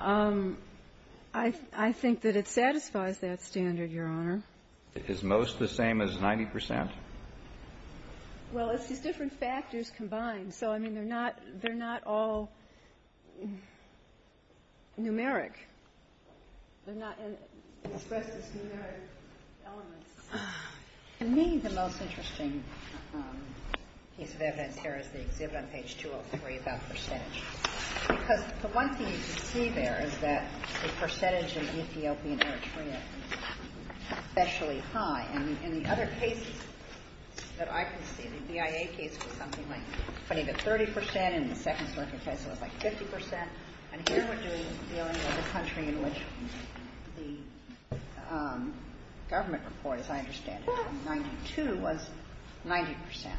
I think that it satisfies that standard, Your Honor. Is most the same as 90 percent? Well, it's just different factors combined. So, I mean, they're not all numeric. They're not expressed as numeric elements. To me, the most interesting piece of evidence here is the exhibit on page 203 about percentage. Because the one thing you can see there is that the percentage of Ethiopian Eritrean is especially high. And in the other cases that I can see, the BIA case was something like 20 to 30 percent, and then in the second circuit case it was like 50 percent. And here we're dealing with a country in which the government report, as I understand it, from 1992, was 90 percent.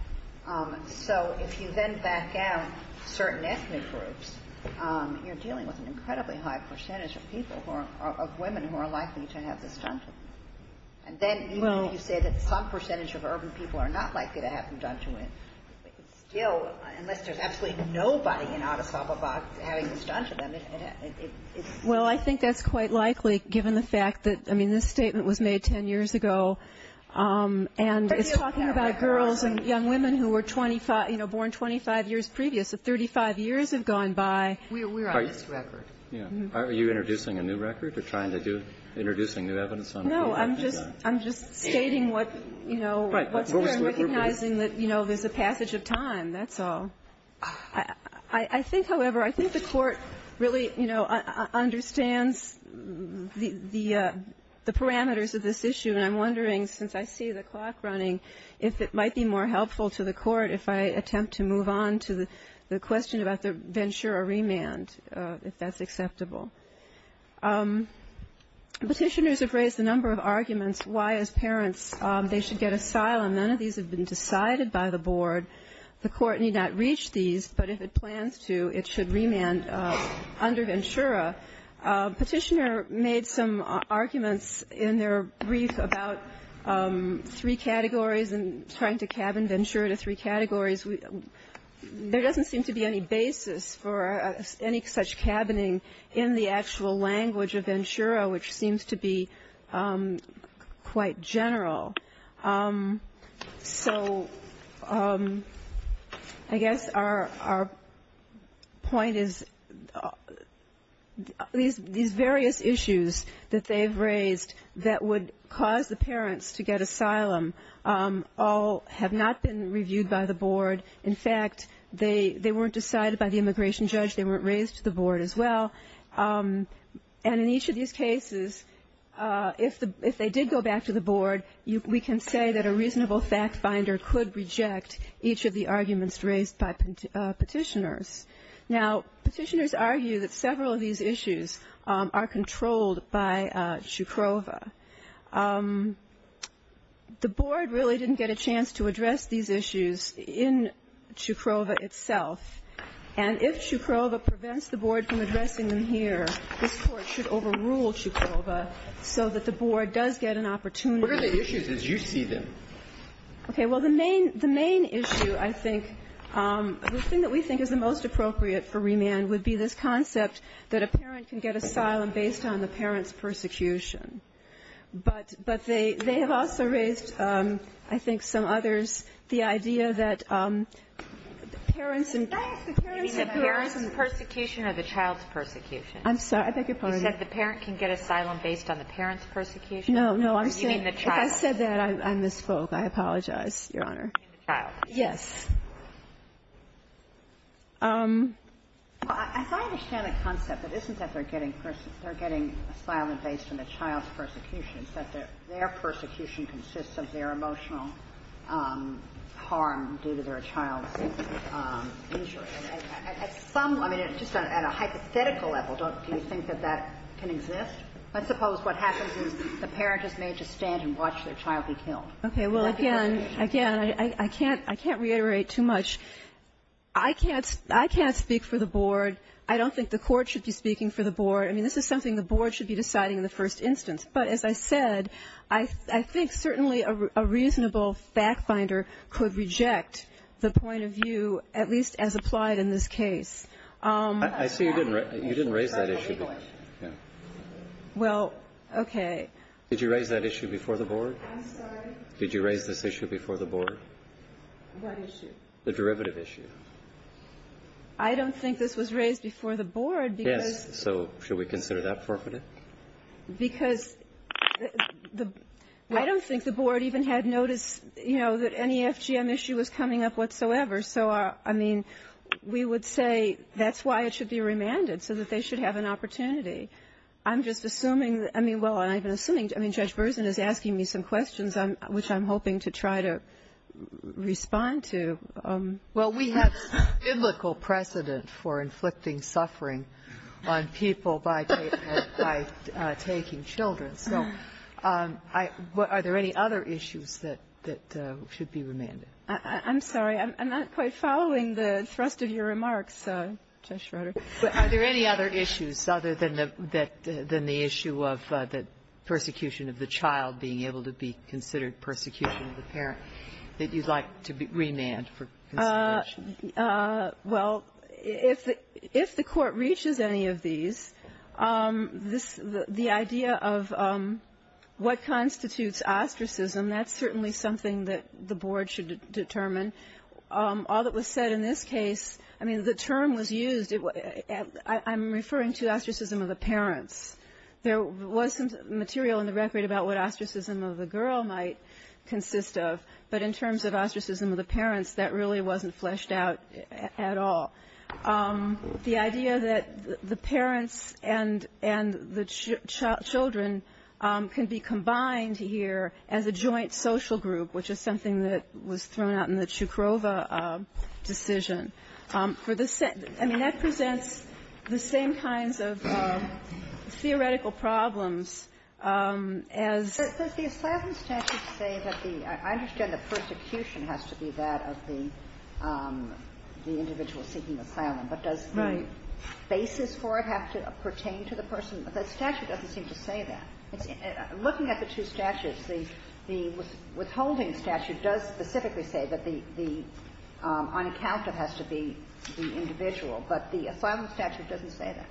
So if you then back down certain ethnic groups, you're dealing with an incredibly high percentage of people who are – of women who are likely to have this done to them. And then even if you say that some percentage of urban people are not likely to have them done to them, it's still – unless there's absolutely nobody in Addis Ababa having this done to them, it's – Well, I think that's quite likely, given the fact that – I mean, this statement was made 10 years ago. And it's talking about girls and young women who were 25 – you know, born 25 years previous. So 35 years have gone by. We're on this record. Yeah. Are you introducing a new record? You're trying to do – introducing new evidence on – No. I'm just – I'm just stating what, you know, what's there. Right. So it was a passage of time, that's all. I think, however, I think the Court really, you know, understands the parameters of this issue. And I'm wondering, since I see the clock running, if it might be more helpful to the Court if I attempt to move on to the question about the venture or remand, if that's acceptable. Petitioners have raised a number of arguments why, as parents, they should get asylum. None of these have been decided by the Board. The Court need not reach these, but if it plans to, it should remand under Ventura. Petitioner made some arguments in their brief about three categories and trying to cabin Ventura to three categories. There doesn't seem to be any basis for any such cabining in the actual language of Ventura, which seems to be quite general. So I guess our point is these various issues that they've raised that would cause the parents to get asylum all have not been reviewed by the Board. In fact, they weren't decided by the immigration judge. They weren't raised to the Board as well. And in each of these cases, if they did go back to the Board, we can say that a reasonable fact finder could reject each of the arguments raised by petitioners. Now, petitioners argue that several of these issues are controlled by Chukrova. The Board really didn't get a chance to address these issues in Chukrova itself. And if Chukrova prevents the Board from addressing them here, this Court should overrule Chukrova so that the Board does get an opportunity. What are the issues as you see them? Okay. Well, the main issue, I think, the thing that we think is the most appropriate for remand would be this concept that a parent can get asylum based on the parent's persecution. But they have also raised, I think, some others, the idea that parents and parents who are the parents' persecution or the child's persecution. I'm sorry. I beg your pardon. You said the parent can get asylum based on the parent's persecution? No, no. You mean the child. If I said that, I misspoke. I apologize, Your Honor. You mean the child. Yes. Well, as I understand the concept, it isn't that they're getting asylum based on the child's persecution. It's that their persecution consists of their emotional harm due to their child's injury. At some, I mean, just at a hypothetical level, do you think that that can exist? Let's suppose what happens is the parent is made to stand and watch their child be killed. Okay. Well, again, again, I can't reiterate too much. I can't speak for the Board. I don't think the Court should be speaking for the Board. I mean, this is something the Board should be deciding in the first instance. But as I said, I think certainly a reasonable fact finder could reject the point of view, at least as applied in this case. I see you didn't raise that issue. Well, okay. Did you raise that issue before the Board? I'm sorry? Did you raise this issue before the Board? What issue? The derivative issue. I don't think this was raised before the Board because the Board even had notice, you know, that any FGM issue was coming up whatsoever. So, I mean, we would say that's why it should be remanded, so that they should have an opportunity. I'm just assuming, I mean, well, I've been assuming, I mean, Judge Berzin is asking me some questions, which I'm hoping to try to respond to. Well, we have biblical precedent for inflicting suffering on people by taking children. So are there any other issues that should be remanded? I'm sorry. I'm not quite following the thrust of your remarks, Judge Schroeder. Are there any other issues other than the issue of the persecution of the child being able to be considered persecution of the parent that you'd like to remand for consideration? Well, if the Court reaches any of these, the idea of what constitutes ostracism, that's certainly something that the Board should determine. All that was said in this case, I mean, the term was used. I'm referring to ostracism of the parents. There was some material in the record about what ostracism of the girl might consist of. But in terms of ostracism of the parents, that really wasn't fleshed out at all. The idea that the parents and the children can be combined here as a joint social group, which is something that was thrown out in the Cukrova decision, for the sense that presents the same kinds of theoretical problems as the asylum statute. I understand the persecution has to be that of the individual seeking asylum. Right. But does the basis for it have to pertain to the person? The statute doesn't seem to say that. Looking at the two statutes, the withholding statute does specifically say that the unaccounted has to be the individual, but the asylum statute doesn't say that.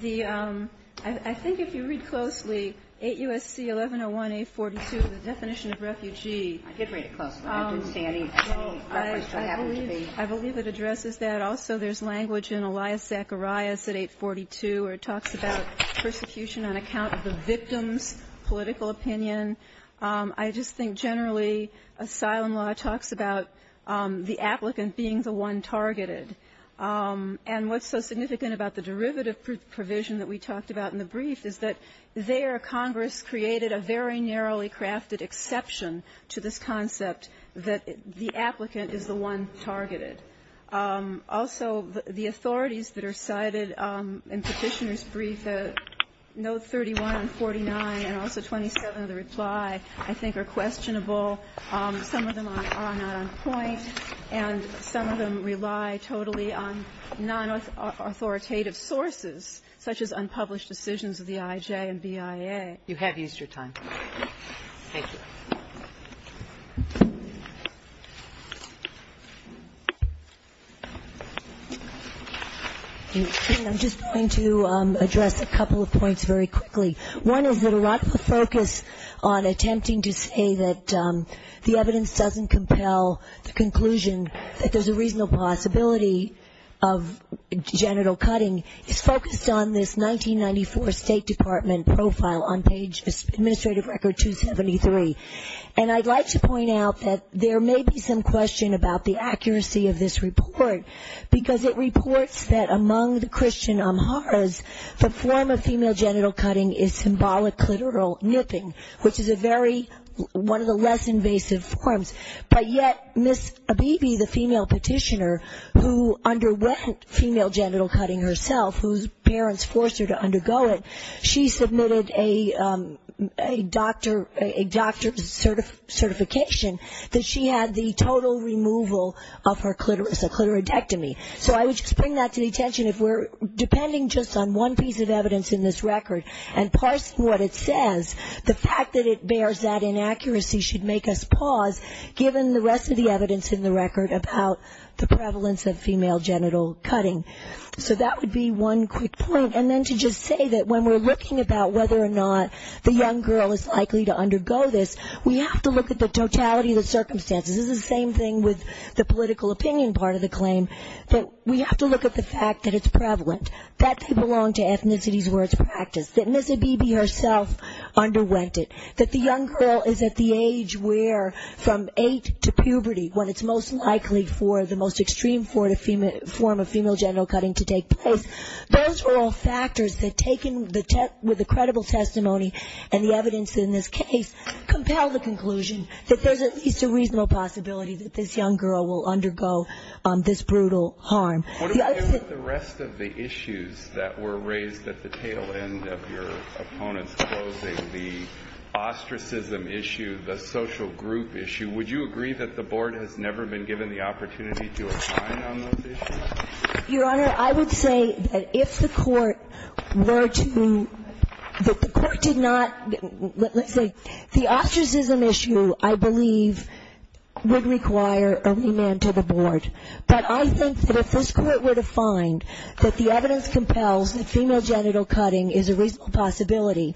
The um, I think if you read closely, 8 U.S.C. 1101, 842, the definition of refugee. I did read it closely. I didn't see any reference to it. I believe it addresses that. Also, there's language in Elias Zacharias at 842 where it talks about persecution on account of the victim's political opinion. I just think generally asylum law talks about the applicant being the one targeted. And what's so significant about the derivative provision that we talked about in the brief is that there Congress created a very narrowly crafted exception to this concept that the applicant is the one targeted. Also, the authorities that are cited in Petitioner's brief, note 31 and 49, and also 27 of the reply, I think are questionable. Some of them are not on point, and some of them rely totally on non-authoritative sources such as unpublished decisions of the IJ and BIA. You have used your time. Thank you. Thank you. I'm just going to address a couple of points very quickly. One is that a lot of the focus on attempting to say that the evidence doesn't compel the conclusion that there's a reasonable possibility of genital cutting is focused on this And I'd like to point out that there may be some question about the accuracy of this report, because it reports that among the Christian Amharas, the form of female genital cutting is symbolic clitoral nipping, which is a very, one of the less invasive forms. But yet Ms. Abebe, the female petitioner who underwent female genital cutting herself, whose parents forced her to undergo it, she submitted a doctor's certification that she had the total removal of her clitoris, a clitoridectomy. So I would just bring that to the attention, if we're depending just on one piece of evidence in this record and parsing what it says, the fact that it bears that inaccuracy should make us pause, given the rest of the evidence in the record about the prevalence of female genital cutting. So that would be one quick point. And then to just say that when we're looking about whether or not the young girl is likely to undergo this, we have to look at the totality of the circumstances. This is the same thing with the political opinion part of the claim. But we have to look at the fact that it's prevalent, that they belong to ethnicities where it's practiced, that Ms. Abebe herself underwent it, that the young girl is at the age where from eight to puberty, when it's most likely for the most extreme form of female genital cutting to take place. Those are all factors that, taken with the credible testimony and the evidence in this case, compel the conclusion that there's at least a reasonable possibility that this young girl will undergo this brutal harm. The rest of the issues that were raised at the tail end of your opponent's closing, the ostracism issue, the social group issue, would you agree that the board has never been given the opportunity to assign on those issues? Your Honor, I would say that if the court were to ñ that the court did not ñ let's say the ostracism issue, I believe, would require a remand to the board. But I think that if this court were to find that the evidence compels that female genital cutting is a reasonable possibility,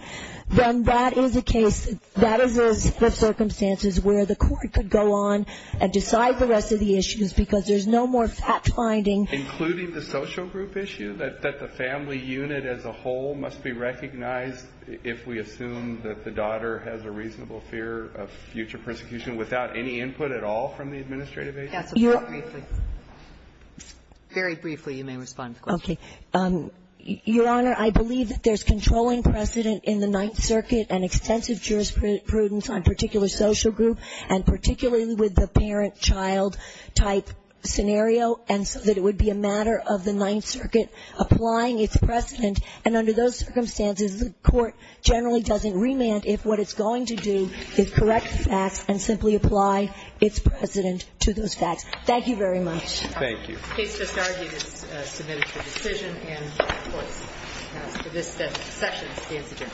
then that is a case, that is a set of circumstances where the court could go on and decide the rest of the issues because there's no more fact-finding. Including the social group issue, that the family unit as a whole must be recognized if we assume that the daughter has a reasonable fear of future persecution without any input at all from the administrative agency? Okay. Your Honor, I believe that there's controlling precedent in the Ninth Circuit and extensive jurisprudence on particular social group, and particularly with the parent-child type scenario, and so that it would be a matter of the Ninth Circuit applying its precedent. And under those circumstances, the court generally doesn't remand if what it's going to do is correct the facts and simply apply its precedent to those facts. Thank you very much. Thank you. The case just argued is submitted for decision, and this session stands adjourned.